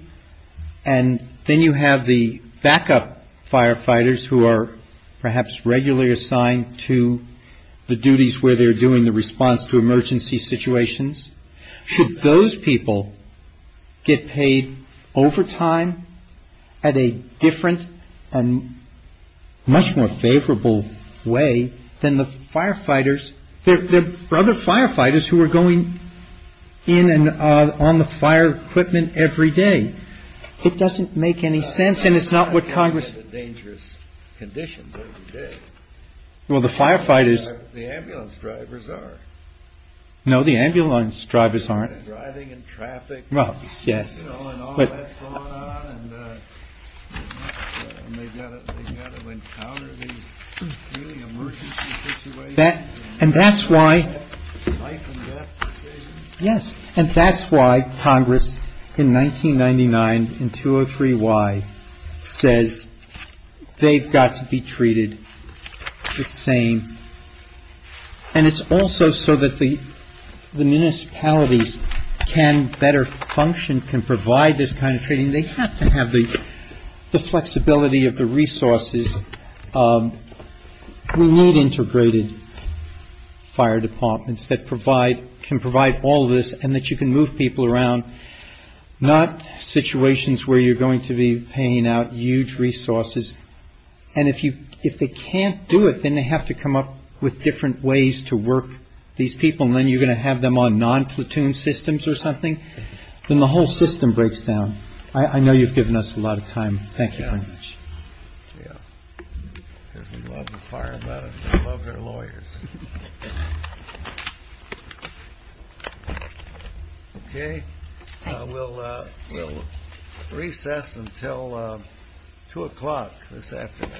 and then you have the backup firefighters who are perhaps regularly assigned to the duties where they're doing the response to emergency situations. Should those people get paid overtime at a different and much more favorable way than the firefighters? There are other firefighters who are going in and on the fire equipment every day. It doesn't make any sense, and it's not what Congress. Dangerous conditions. Well, the firefighters, the ambulance drivers are. No, the ambulance drivers aren't driving in traffic. Well, yes. That and that's why. Yes, and that's why Congress in 1999, in 203Y, says they've got to be treated the same. And it's also so that the municipalities can better function, can provide this kind of training. They have to have the flexibility of the resources. We need integrated fire departments that can provide all this and that you can move people around, not situations where you're going to be paying out huge resources. And if they can't do it, then they have to come up with different ways to work these people, and then you're going to have them on non-platoon systems or something. Then the whole system breaks down. I know you've given us a lot of time. Thank you. OK. Well, we'll recess until two o'clock this afternoon.